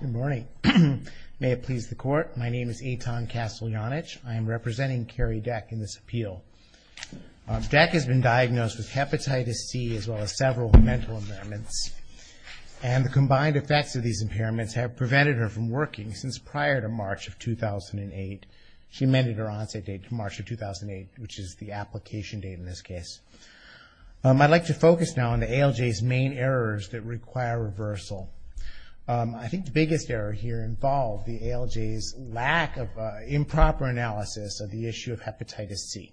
Good morning. May it please the Court, my name is Eitan Kasteljanich. I am representing Carrie Deck in this appeal. Deck has been diagnosed with hepatitis C as well as several mental impairments and the combined effects of these impairments have prevented her from working since prior to March of 2008. She amended her onset date to March of 2008, which is the application date in this case. I'd like to focus now on the ALJ's main errors that require reversal. I think the biggest error here involved the ALJ's lack of improper analysis of the issue of hepatitis C.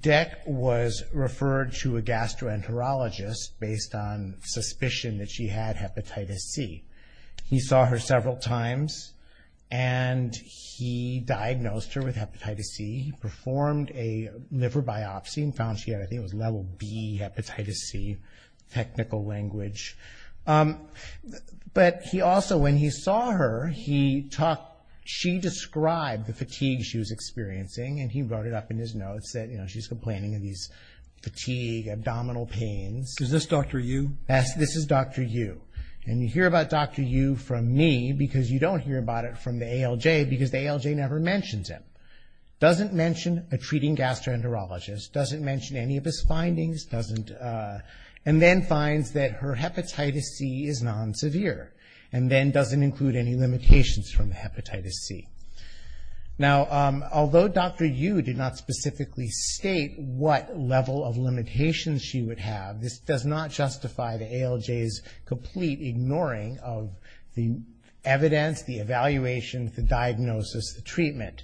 Deck was referred to a gastroenterologist based on suspicion that she had hepatitis C. He saw her several times and he diagnosed her with level B hepatitis C, technical language. But he also, when he saw her, he talked, she described the fatigue she was experiencing and he wrote it up in his notes that she's complaining of these fatigue, abdominal pains. Is this Dr. Yu? Yes, this is Dr. Yu. And you hear about Dr. Yu from me because you don't hear about it from the ALJ because the ALJ never mentions him. Doesn't mention a treating gastroenterologist. Doesn't mention any of his findings. And then finds that her hepatitis C is non-severe. And then doesn't include any limitations from hepatitis C. Now, although Dr. Yu did not specifically state what level of limitations she would have, this does not justify the ALJ's complete ignoring of the evidence, the evaluation, the diagnosis, the treatment.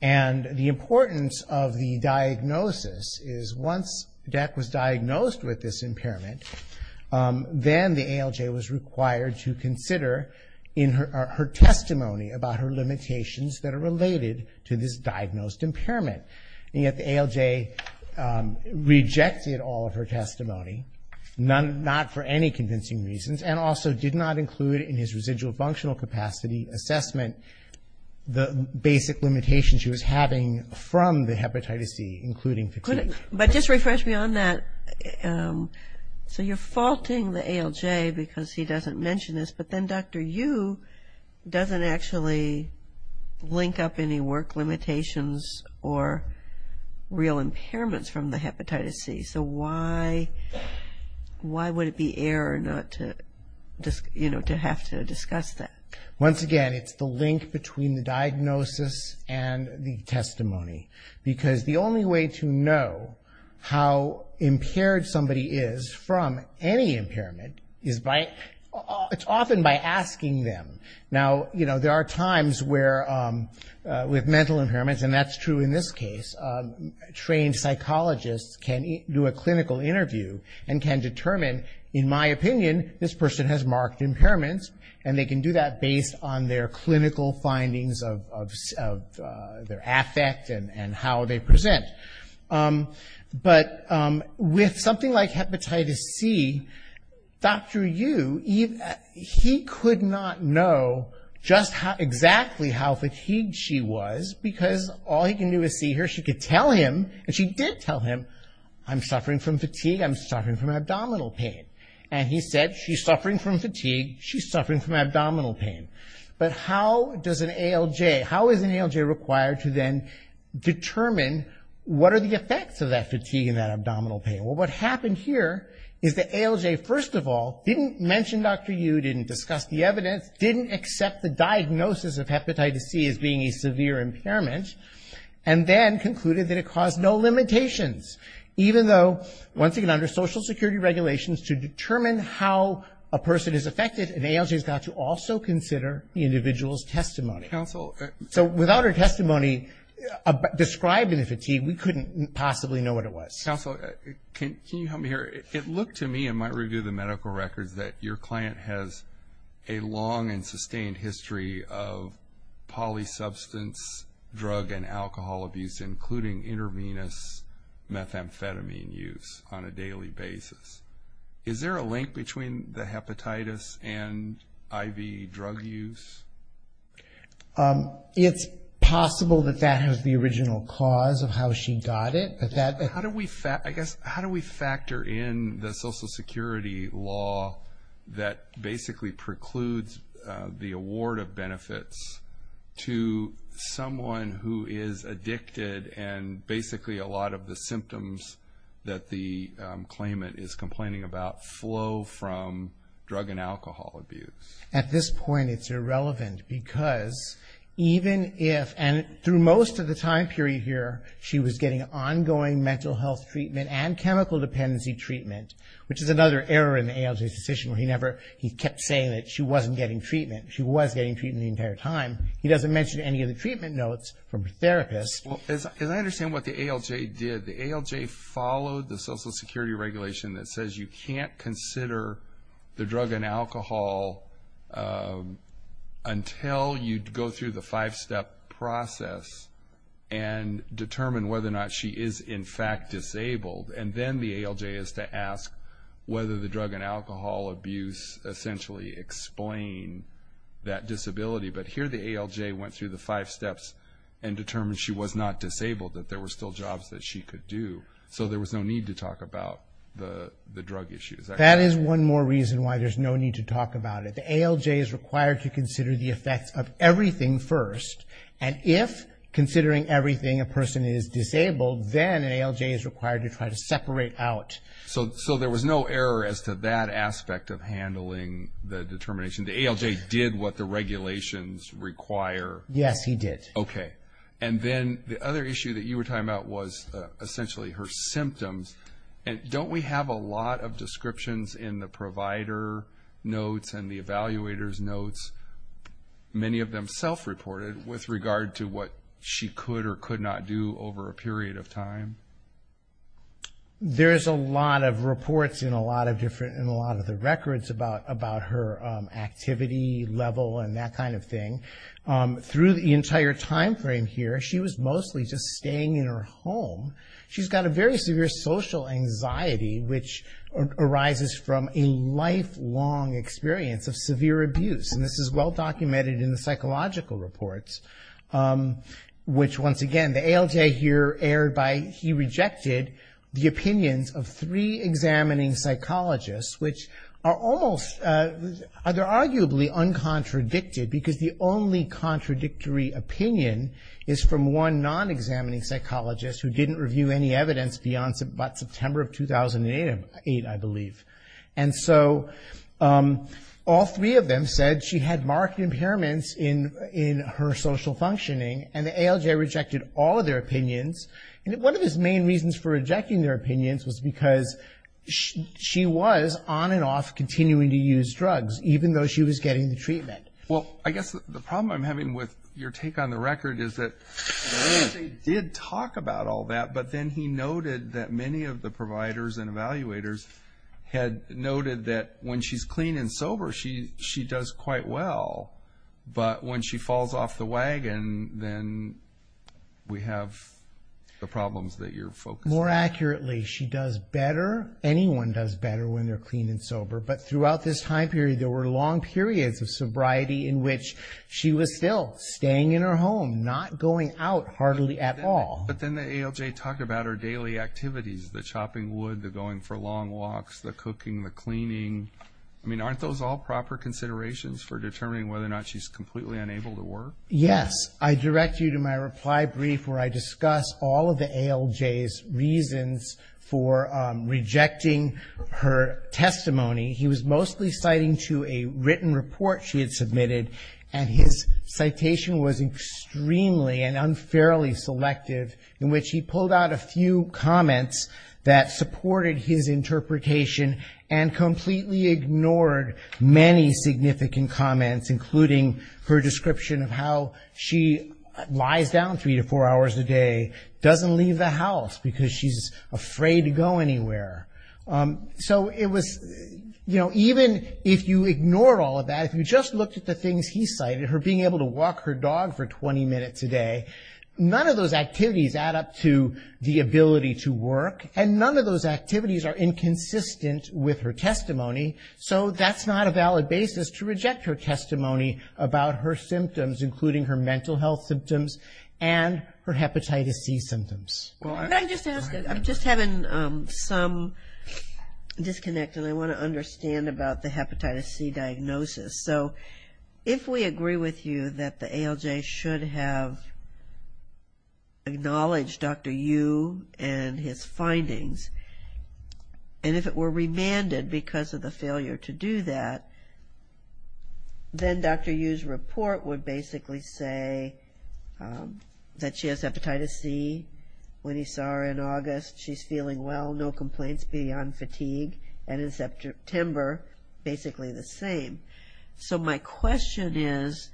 And the importance of the diagnosis is once Dec was diagnosed with this impairment, then the ALJ was required to consider in her testimony about her limitations that are related to this diagnosed impairment. And yet the ALJ rejected all of her testimony, not for any convincing reasons, and also did not include in his residual functional capacity assessment the basic limitations she was having from the hepatitis C, including fatigue. But just refresh me on that. So you're faulting the ALJ because he doesn't mention this, but then Dr. Yu doesn't actually link up any work limitations or real impairments from the hepatitis C. So why would it be error not to have to discuss that? Once again, it's the link between the diagnosis and the testimony. Because the only way to know how impaired somebody is from any impairment is by, it's often by asking them. Now, you know, there are times where with mental impairments, and that's true in this case, trained psychologists can do a clinical interview and can determine, in my opinion, this person has marked impairments, and they can do that based on their clinical findings of their affect and how they present. But with something like hepatitis C, Dr. Yu, he could not know just exactly how fatigued she was, because all he can do is see her. She could tell him, and she did tell him, I'm suffering from fatigue, I'm suffering from abdominal pain. And he said, she's suffering from fatigue, she's suffering from abdominal pain. But how does an ALJ, how is an ALJ required to then determine what are the effects of that fatigue and that abdominal pain? Well, what happened here is that ALJ, first of all, didn't mention Dr. Yu, didn't discuss the evidence, didn't accept the diagnosis of hepatitis C as being a severe impairment, and then concluded that it caused no limitations. Even though, once again, under social security regulations, to determine how a person is fatigued, you've got to also consider the individual's testimony. So, without her testimony describing the fatigue, we couldn't possibly know what it was. Council, can you help me here? It looked to me, in my review of the medical records, that your client has a long and sustained history of polysubstance drug and alcohol abuse, including intravenous methamphetamine use on a IV drug use? It's possible that that was the original cause of how she got it. How do we factor in the social security law that basically precludes the award of benefits to someone who is addicted, and basically a lot of the symptoms that the claimant is complaining about flow from drug and alcohol abuse? At this point, it's irrelevant, because even if, and through most of the time period here, she was getting ongoing mental health treatment and chemical dependency treatment, which is another error in the ALJ's decision where he never, he kept saying that she wasn't getting treatment. She was getting treatment the entire time. He doesn't mention any of the treatment notes from her therapist. As I understand what the ALJ did, the ALJ followed the social security regulation that says you can't consider the drug and alcohol until you go through the five-step process and determine whether or not she is in fact disabled. Then the ALJ is to ask whether the drug and alcohol abuse essentially explain that disability. Here, the ALJ went through the five steps. She was not disabled, that there were still jobs that she could do, so there was no need to talk about the drug issues. That is one more reason why there's no need to talk about it. The ALJ is required to consider the effects of everything first, and if, considering everything, a person is disabled, then an ALJ is required to try to separate out. So there was no error as to that aspect of handling the determination. The ALJ did what the regulations require. Yes, he did. Okay. Then the other issue that you were talking about was essentially her symptoms. Don't we have a lot of descriptions in the provider notes and the evaluator's notes, many of them self-reported, with regard to what she could or could not do over a period of time? There's a lot of reports in a lot of the records about her activity level and that kind of thing. Through the entire time frame here, she was mostly just staying in her home. She's got a very severe social anxiety, which arises from a lifelong experience of severe abuse, and this is well-documented in the psychological reports, which, once again, the ALJ here erred by he rejected the opinions of three examining psychologists, which are almost, they're rejected because the only contradictory opinion is from one non-examining psychologist who didn't review any evidence beyond September of 2008, I believe. And so all three of them said she had marked impairments in her social functioning, and the ALJ rejected all of their opinions. One of his main reasons for rejecting their opinions was because she was on and off continuing to use drugs, even though she was getting the treatment. Well, I guess the problem I'm having with your take on the record is that they did talk about all that, but then he noted that many of the providers and evaluators had noted that when she's clean and sober, she does quite well. But when she falls off the wagon, then we have the problems that you're focusing on. More accurately, she does better, anyone does better when they're clean and in which she was still staying in her home, not going out hardly at all. But then the ALJ talked about her daily activities, the chopping wood, the going for long walks, the cooking, the cleaning. I mean, aren't those all proper considerations for determining whether or not she's completely unable to work? Yes. I direct you to my reply brief where I discuss all of the ALJ's reasons for rejecting her testimony. He was mostly citing to a written report she had submitted, and his citation was extremely and unfairly selective in which he pulled out a few comments that supported his interpretation and completely ignored many significant comments, including her description of how she lies down three to four hours a day, doesn't leave the house because she's afraid to go anywhere. So it was, you know, even if you ignore all of that, if you just looked at the things he cited, her being able to walk her dog for 20 minutes a day, none of those activities add up to the ability to work, and none of those activities are inconsistent with her testimony. So that's not a valid basis to reject her testimony about her symptoms, including her mental health symptoms and her hepatitis C symptoms. I'm just having some disconnect, and I want to understand about the hepatitis C diagnosis. So if we agree with you that the ALJ should have acknowledged Dr. Yu and his findings, and if it were remanded because of the failure to do that, then Dr. Yu's report would basically say that she has hepatitis C. When he saw her in August, she's feeling well, no complaints beyond fatigue, and in September, basically the same. So my question is,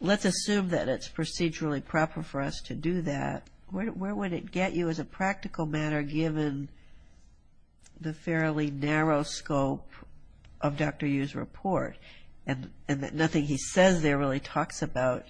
let's assume that it's procedurally proper for us to do that. Where would it get you as a practical matter, given the fairly narrow scope of Dr. Yu's report? And nothing he says there really talks about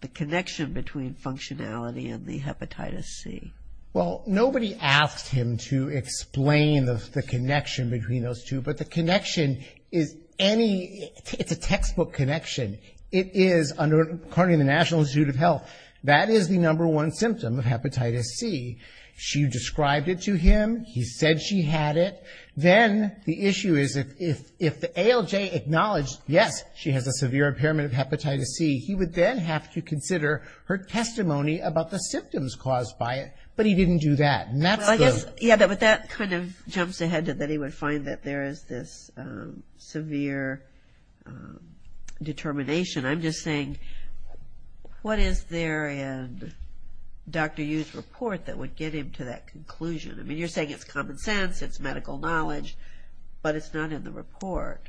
the connection between functionality and the hepatitis C. Well, nobody asked him to explain the connection between those two, but the connection is any, it's a textbook connection. It is, according to the ALJ, she had one symptom of hepatitis C. She described it to him. He said she had it. Then the issue is if the ALJ acknowledged, yes, she has a severe impairment of hepatitis C, he would then have to consider her testimony about the symptoms caused by it. But he didn't do that. Well, I guess, yeah, but that kind of jumps ahead to that he would find that there is this severe determination. I'm just saying, what is there in Dr. Yu's report that would get him to that conclusion? I mean, you're saying it's common sense, it's medical knowledge, but it's not in the report.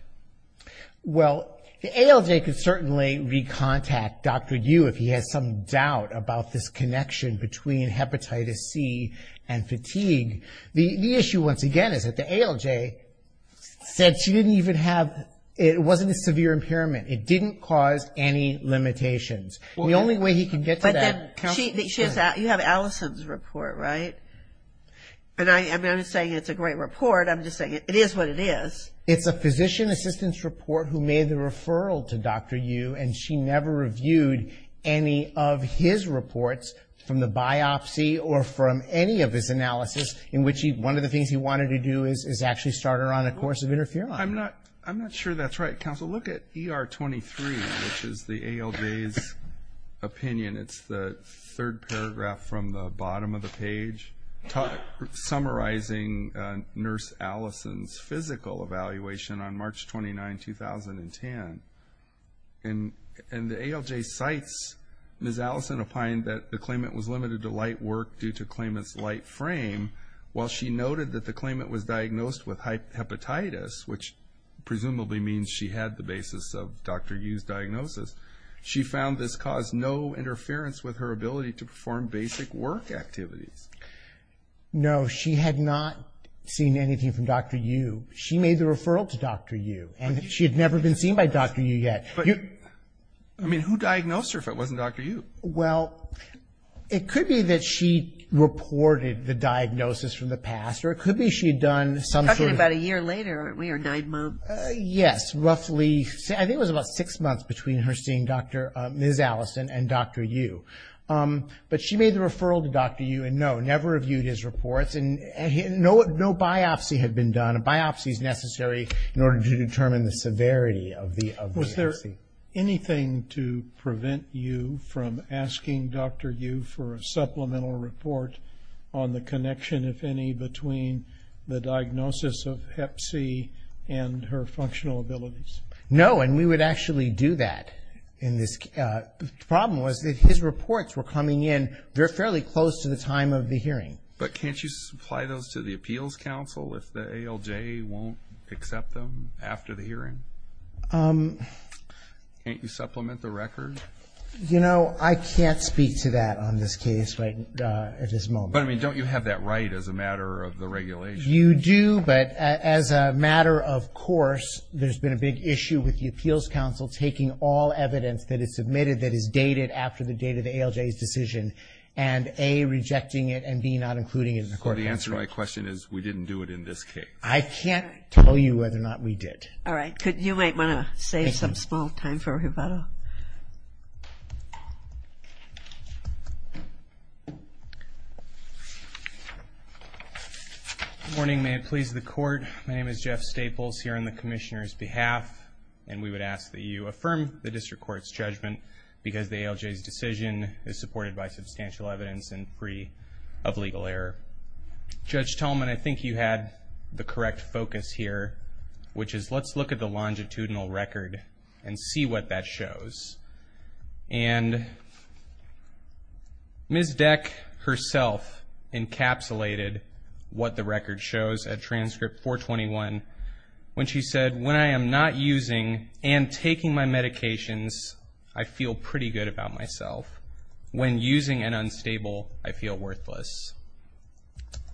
Well, the ALJ could certainly recontact Dr. Yu if he has some doubt about this said she didn't even have, it wasn't a severe impairment. It didn't cause any limitations. The only way he could get to that You have Allison's report, right? And I'm not saying it's a great report, I'm just saying it is what it is. It's a physician assistant's report who made the referral to Dr. Yu, and she never reviewed any of his reports from the biopsy or from any of his analysis in which one of the things he wanted to do is actually start her on a course of interferon. I'm not sure that's right, counsel. Look at ER 23, which is the ALJ's opinion. It's the third paragraph from the bottom of the page summarizing Nurse Allison's physical evaluation on March 29, 2010. And the ALJ cites Ms. Allison opined that the claimant was limited to light work due to claimant's light frame, while she noted that the claimant was diagnosed with hepatitis, which presumably means she had the basis of Dr. Yu's diagnosis. She found this caused no interference with her ability to perform basic work activities. No, she had not seen anything from Dr. Yu. She made the referral to Dr. Yu, and she had never been seen by Dr. Yu yet. I mean, who diagnosed her if it wasn't Dr. Yu? Well, it could be that she reported the diagnosis from the past, or it could be she had done some sort of – You're talking about a year later. We are nine months. Yes, roughly – I think it was about six months between her seeing Dr. – Ms. Allison and Dr. Yu. But she made the referral to Dr. Yu and, no, never reviewed his reports, and no biopsy had been done. A biopsy is necessary in order to determine the severity of the – of the biopsy. Is there anything to prevent Yu from asking Dr. Yu for a supplemental report on the connection, if any, between the diagnosis of hep C and her functional abilities? No, and we would actually do that in this – the problem was that his reports were coming in – they're fairly close to the time of the hearing. But can't you supply those to the appeals council if the ALJ won't accept them after the hearing? Can't you supplement the record? You know, I can't speak to that on this case right at this moment. But, I mean, don't you have that right as a matter of the regulation? You do, but as a matter of course, there's been a big issue with the appeals council taking all evidence that is submitted that is dated after the date of the ALJ's decision and, A, rejecting it, and, B, not including it in the court transcript. So the answer to my question is we didn't do it in this case. I can't tell you whether or not we did. All right. You might want to save some small time for Roberto. Good morning. May it please the court. My name is Jeff Staples here on the commissioner's behalf, and we would ask that you affirm the district court's judgment because the ALJ's decision is supported by substantial evidence and free of legal error. Judge Tallman, I think you had the correct focus here, which is let's look at the longitudinal record and see what that shows. And Ms. Deck herself encapsulated what the record shows at transcript 421 when she said, When I am not using and taking my medications, I feel pretty good about myself. When using and unstable, I feel worthless.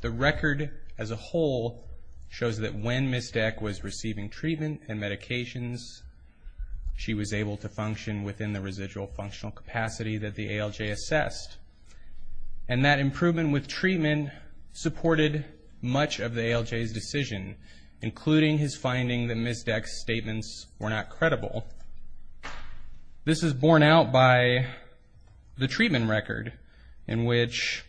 The record as a whole shows that when Ms. Deck was receiving treatment and medications, she was able to function within the residual functional capacity that the ALJ assessed. And that improvement with treatment supported much of the ALJ's decision, including his finding that Ms. Deck's statements were not credible. This is borne out by the treatment record in which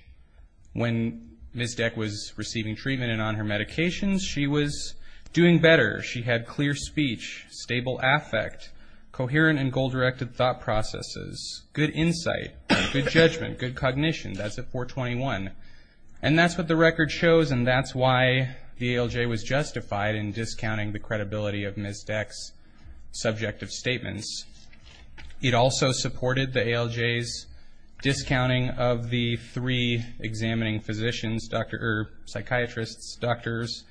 when Ms. Deck was receiving treatment and on her medications, she was doing better. She had clear speech, stable affect, coherent and goal-directed thought processes, good insight, good judgment, good cognition. That's at 421. And that's what the record shows, and that's why the ALJ was justified in It also supported the ALJ's discounting of the three examining physicians, psychiatrists, doctors,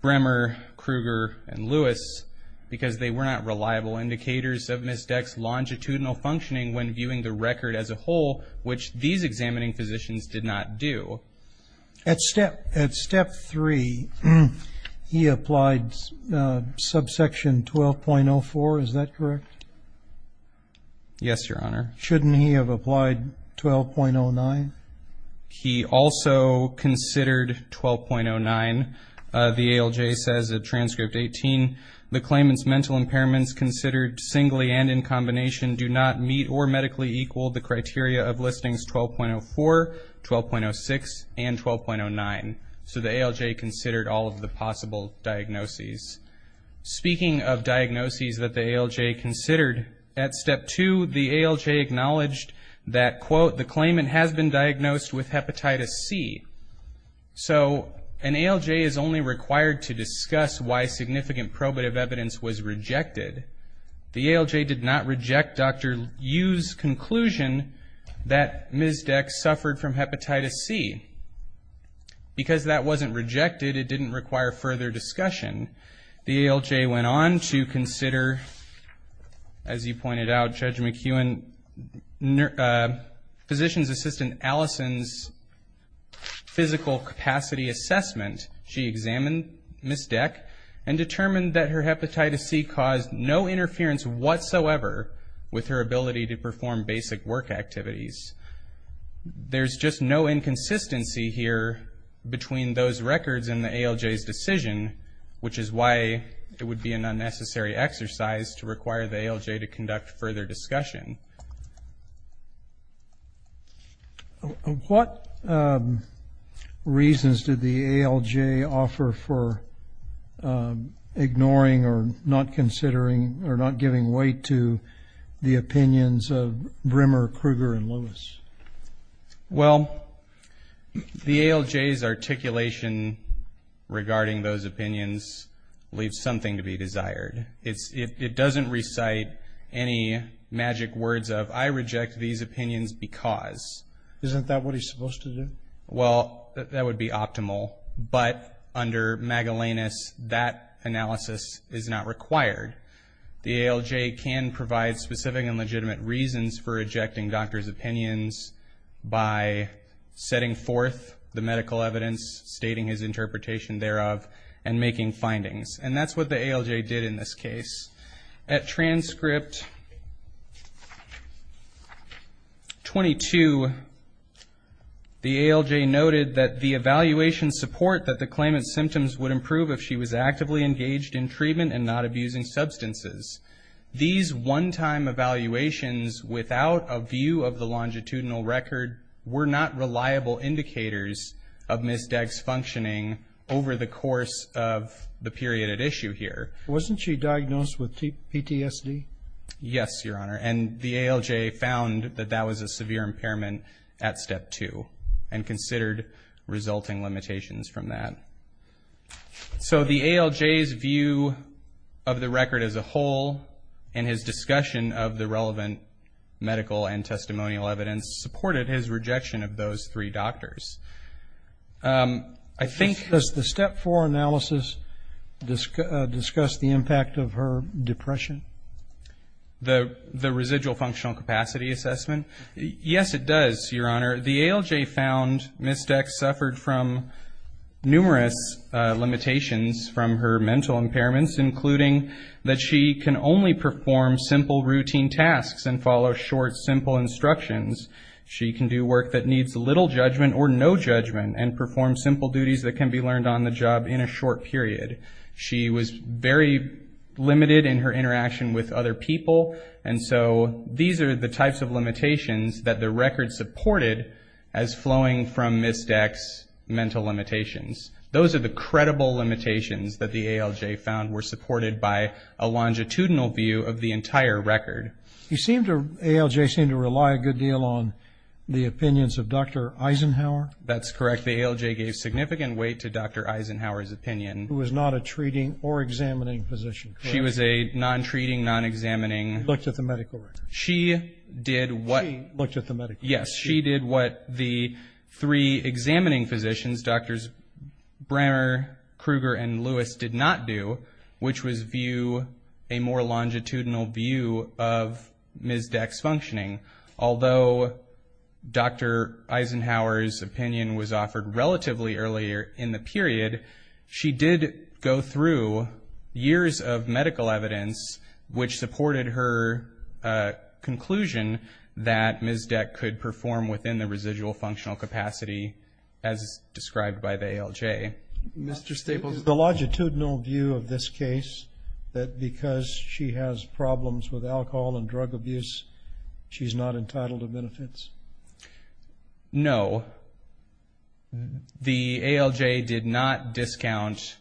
Bremer, Krueger, and Lewis, because they were not reliable indicators of Ms. Deck's longitudinal functioning when viewing the record as a whole, which these examining physicians did not do. At step three, he applied subsection 12.04. Is that correct? Yes, Your Honor. Shouldn't he have applied 12.09? He also considered 12.09. The ALJ says at transcript 18, the claimant's mental impairments considered singly and in combination do not meet or medically equal the criteria of listings 12.04, 12.06, and 12.09. So the ALJ considered all of the possible diagnoses. Speaking of diagnoses that the ALJ considered, at step two, the ALJ acknowledged that, quote, the claimant has been diagnosed with hepatitis C. So an ALJ is only required to discuss why significant probative evidence was that Ms. Deck suffered from hepatitis C. Because that wasn't rejected, it didn't require further discussion. The ALJ went on to consider, as you pointed out, Judge McEwen, physician's assistant Allison's physical capacity assessment. She examined Ms. Deck and determined that her hepatitis C caused no inability to perform basic work activities. There's just no inconsistency here between those records and the ALJ's decision, which is why it would be an unnecessary exercise to require the ALJ to conduct further discussion. Thank you. What reasons did the ALJ offer for ignoring or not considering or not giving weight to the opinions of Brimmer, Krueger, and Lewis? Well, the ALJ's articulation regarding those opinions leaves something to be desired. It doesn't recite any magic words of, I reject these opinions because. Isn't that what he's supposed to do? Well, that would be optimal. But under Magellanus, that analysis is not required. The ALJ can provide specific and legitimate reasons for rejecting doctors' opinions by setting forth the medical evidence, stating his interpretation thereof, and making findings. And that's what the ALJ did in this case. At transcript 22, the ALJ noted that the evaluation support that the claimant's symptoms would improve if she was actively engaged in treatment and not abusing substances. These one-time evaluations without a view of the longitudinal record were not Wasn't she diagnosed with PTSD? Yes, Your Honor. And the ALJ found that that was a severe impairment at step two and considered resulting limitations from that. So the ALJ's view of the record as a whole and his discussion of the relevant medical and testimonial evidence supported his rejection of those three doctors. Does the step four analysis discuss the impact of her depression? The residual functional capacity assessment? Yes, it does, Your Honor. The ALJ found Ms. Dex suffered from numerous limitations from her mental impairments, including that she can only perform simple routine tasks and follow short, simple instructions. She can do work that needs little judgment or no judgment and perform simple duties that can be learned on the job in a short period. She was very limited in her interaction with other people, and so these are the types of limitations that the record supported as flowing from Ms. Dex's mental limitations. Those are the credible limitations that the ALJ found were supported by a longitudinal view of the entire record. Okay. The ALJ seemed to rely a good deal on the opinions of Dr. Eisenhower. That's correct. The ALJ gave significant weight to Dr. Eisenhower's opinion. Who was not a treating or examining physician, correct? She was a non-treating, non-examining. She looked at the medical record. She did what the three examining physicians, Drs. Brammer, Krueger, and Lewis, did not do, which was view a more longitudinal view of Ms. Dex's functioning. Although Dr. Eisenhower's opinion was offered relatively earlier in the period, she did go through years of medical evidence, which supported her conclusion that Ms. Dex could perform within the residual functional capacity as described by the ALJ. Okay. Mr. Staples. The longitudinal view of this case, that because she has problems with alcohol and drug abuse, she's not entitled to benefits? No. The ALJ did not discount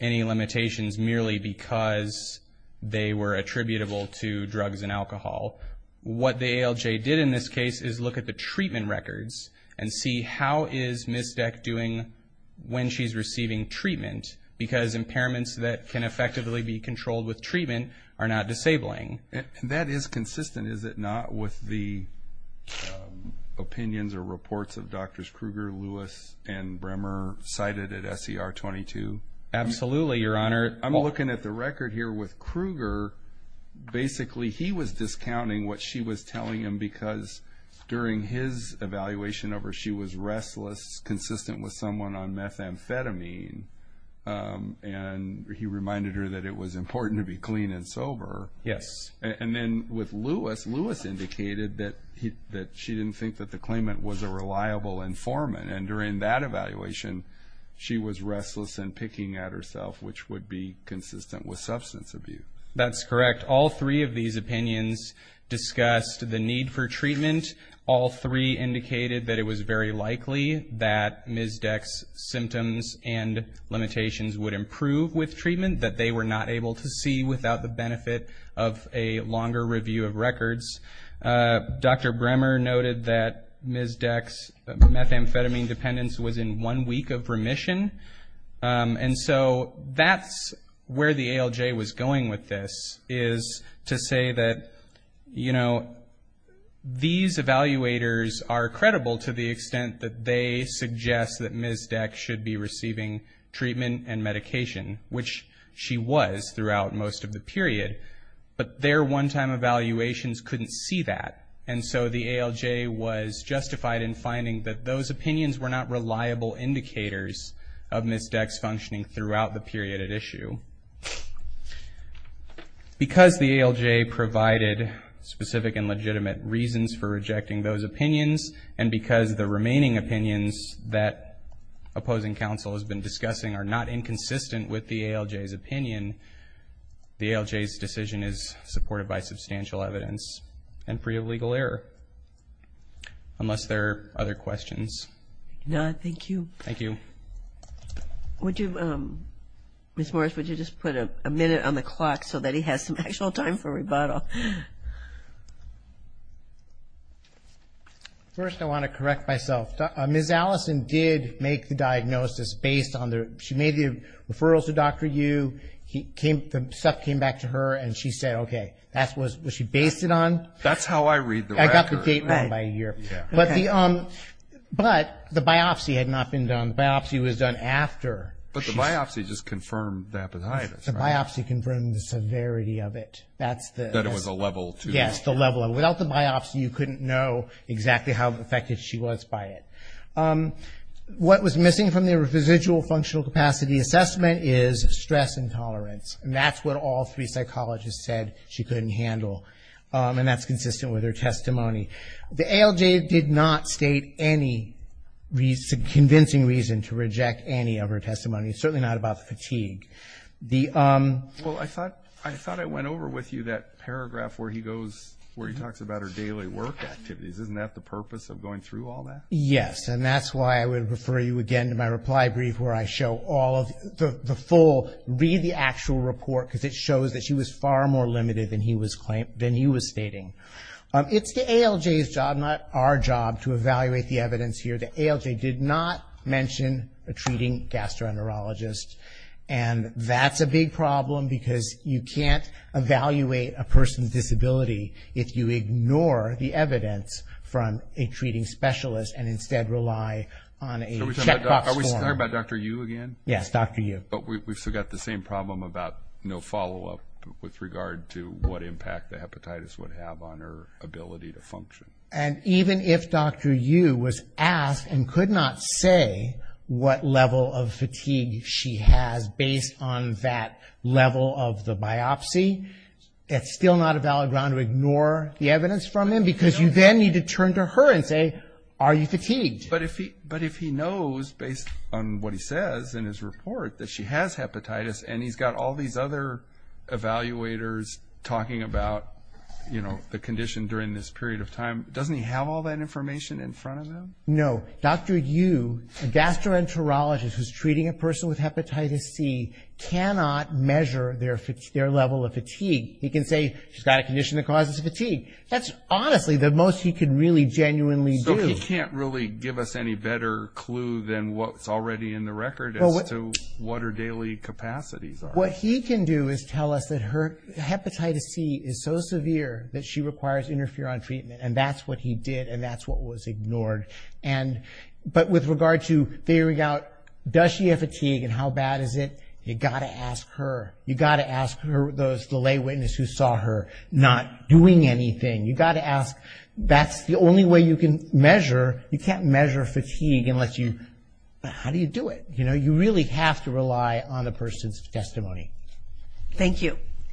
any limitations merely because they were attributable to drugs and alcohol. What the ALJ did in this case is look at the treatment records and see how is Ms. Dex doing when she's receiving treatment, because impairments that can effectively be controlled with treatment are not disabling. That is consistent, is it not, with the opinions or reports of Drs. Krueger, Lewis, and Brammer cited at SER 22? Absolutely, Your Honor. I'm looking at the record here with Krueger. Basically, he was discounting what she was telling him because during his evaluation of her she was restless, consistent with someone on methamphetamine, and he reminded her that it was important to be clean and sober. Yes. And then with Lewis, Lewis indicated that she didn't think that the claimant was a reliable informant, and during that evaluation she was restless and picking at herself, which would be consistent with substance abuse. That's correct. All three of these opinions discussed the need for treatment. All three indicated that it was very likely that Ms. Dex's symptoms and limitations would improve with treatment, that they were not able to see without the benefit of a longer review of records. Dr. Brammer noted that Ms. Dex's methamphetamine dependence was in one week of remission. And so that's where the ALJ was going with this, is to say that these evaluators are credible to the extent that they suggest that Ms. Dex should be receiving treatment and medication, which she was throughout most of the period, but their one-time evaluations couldn't see that. And so the ALJ was justified in finding that those opinions were not reliable indicators of Ms. Dex functioning throughout the period at issue. Because the ALJ provided specific and legitimate reasons for rejecting those opinions, and because the remaining opinions that opposing counsel has been discussing are not inconsistent with the ALJ's opinion, the ALJ's decision is supported by substantial evidence and free of legal error, unless there are other questions. No, thank you. Thank you. Would you, Ms. Morris, would you just put a minute on the clock so that he has some actual time for rebuttal? First, I want to correct myself. Ms. Allison did make the diagnosis based on the, she made the referrals to Dr. Yu. The stuff came back to her, and she said, okay, was she based it on? That's how I read the record. I got the date wrong by a year. But the biopsy had not been done. The biopsy was done after. But the biopsy just confirmed the hepatitis, right? The biopsy confirmed the severity of it. That it was a level two. Yes, the level. Without the biopsy, you couldn't know exactly how affected she was by it. What was missing from the residual functional capacity assessment is stress intolerance. And that's what all three psychologists said she couldn't handle. And that's consistent with her testimony. The ALJ did not state any convincing reason to reject any of her testimony. It's certainly not about fatigue. Well, I thought I went over with you that paragraph where he goes, where he talks about her daily work activities. Isn't that the purpose of going through all that? Yes, and that's why I would refer you again to my reply brief where I show all of the full. Read the actual report because it shows that she was far more limited than he was stating. It's the ALJ's job, not our job, to evaluate the evidence here. The ALJ did not mention a treating gastroenterologist. And that's a big problem because you can't evaluate a person's disability if you ignore the evidence from a treating specialist and instead rely on a checkbox form. Are we talking about Dr. Yu again? Yes, Dr. Yu. But we've still got the same problem about no follow-up with regard to what impact the hepatitis would have on her ability to function. And even if Dr. Yu was asked and could not say what level of fatigue she has based on that level of the biopsy, that's still not a valid ground to ignore the evidence from him because you then need to turn to her and say, are you fatigued? But if he knows based on what he says in his report that she has hepatitis and he's got all these other evaluators talking about the condition during this period of time, doesn't he have all that information in front of him? No. So Dr. Yu, a gastroenterologist who's treating a person with hepatitis C, cannot measure their level of fatigue. He can say she's got a condition that causes fatigue. That's honestly the most he can really genuinely do. So he can't really give us any better clue than what's already in the record as to what her daily capacities are. What he can do is tell us that her hepatitis C is so severe that she requires interferon treatment, and that's what he did and that's what was ignored. But with regard to figuring out does she have fatigue and how bad is it, you've got to ask her. You've got to ask her, the lay witness who saw her, not doing anything. You've got to ask, that's the only way you can measure. You can't measure fatigue unless you – how do you do it? You really have to rely on a person's testimony. Thank you.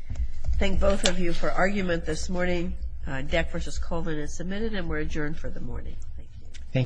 Great. Thank both of you for argument this morning. Deck v. Colvin is submitted and we're adjourned for the morning. Thank you.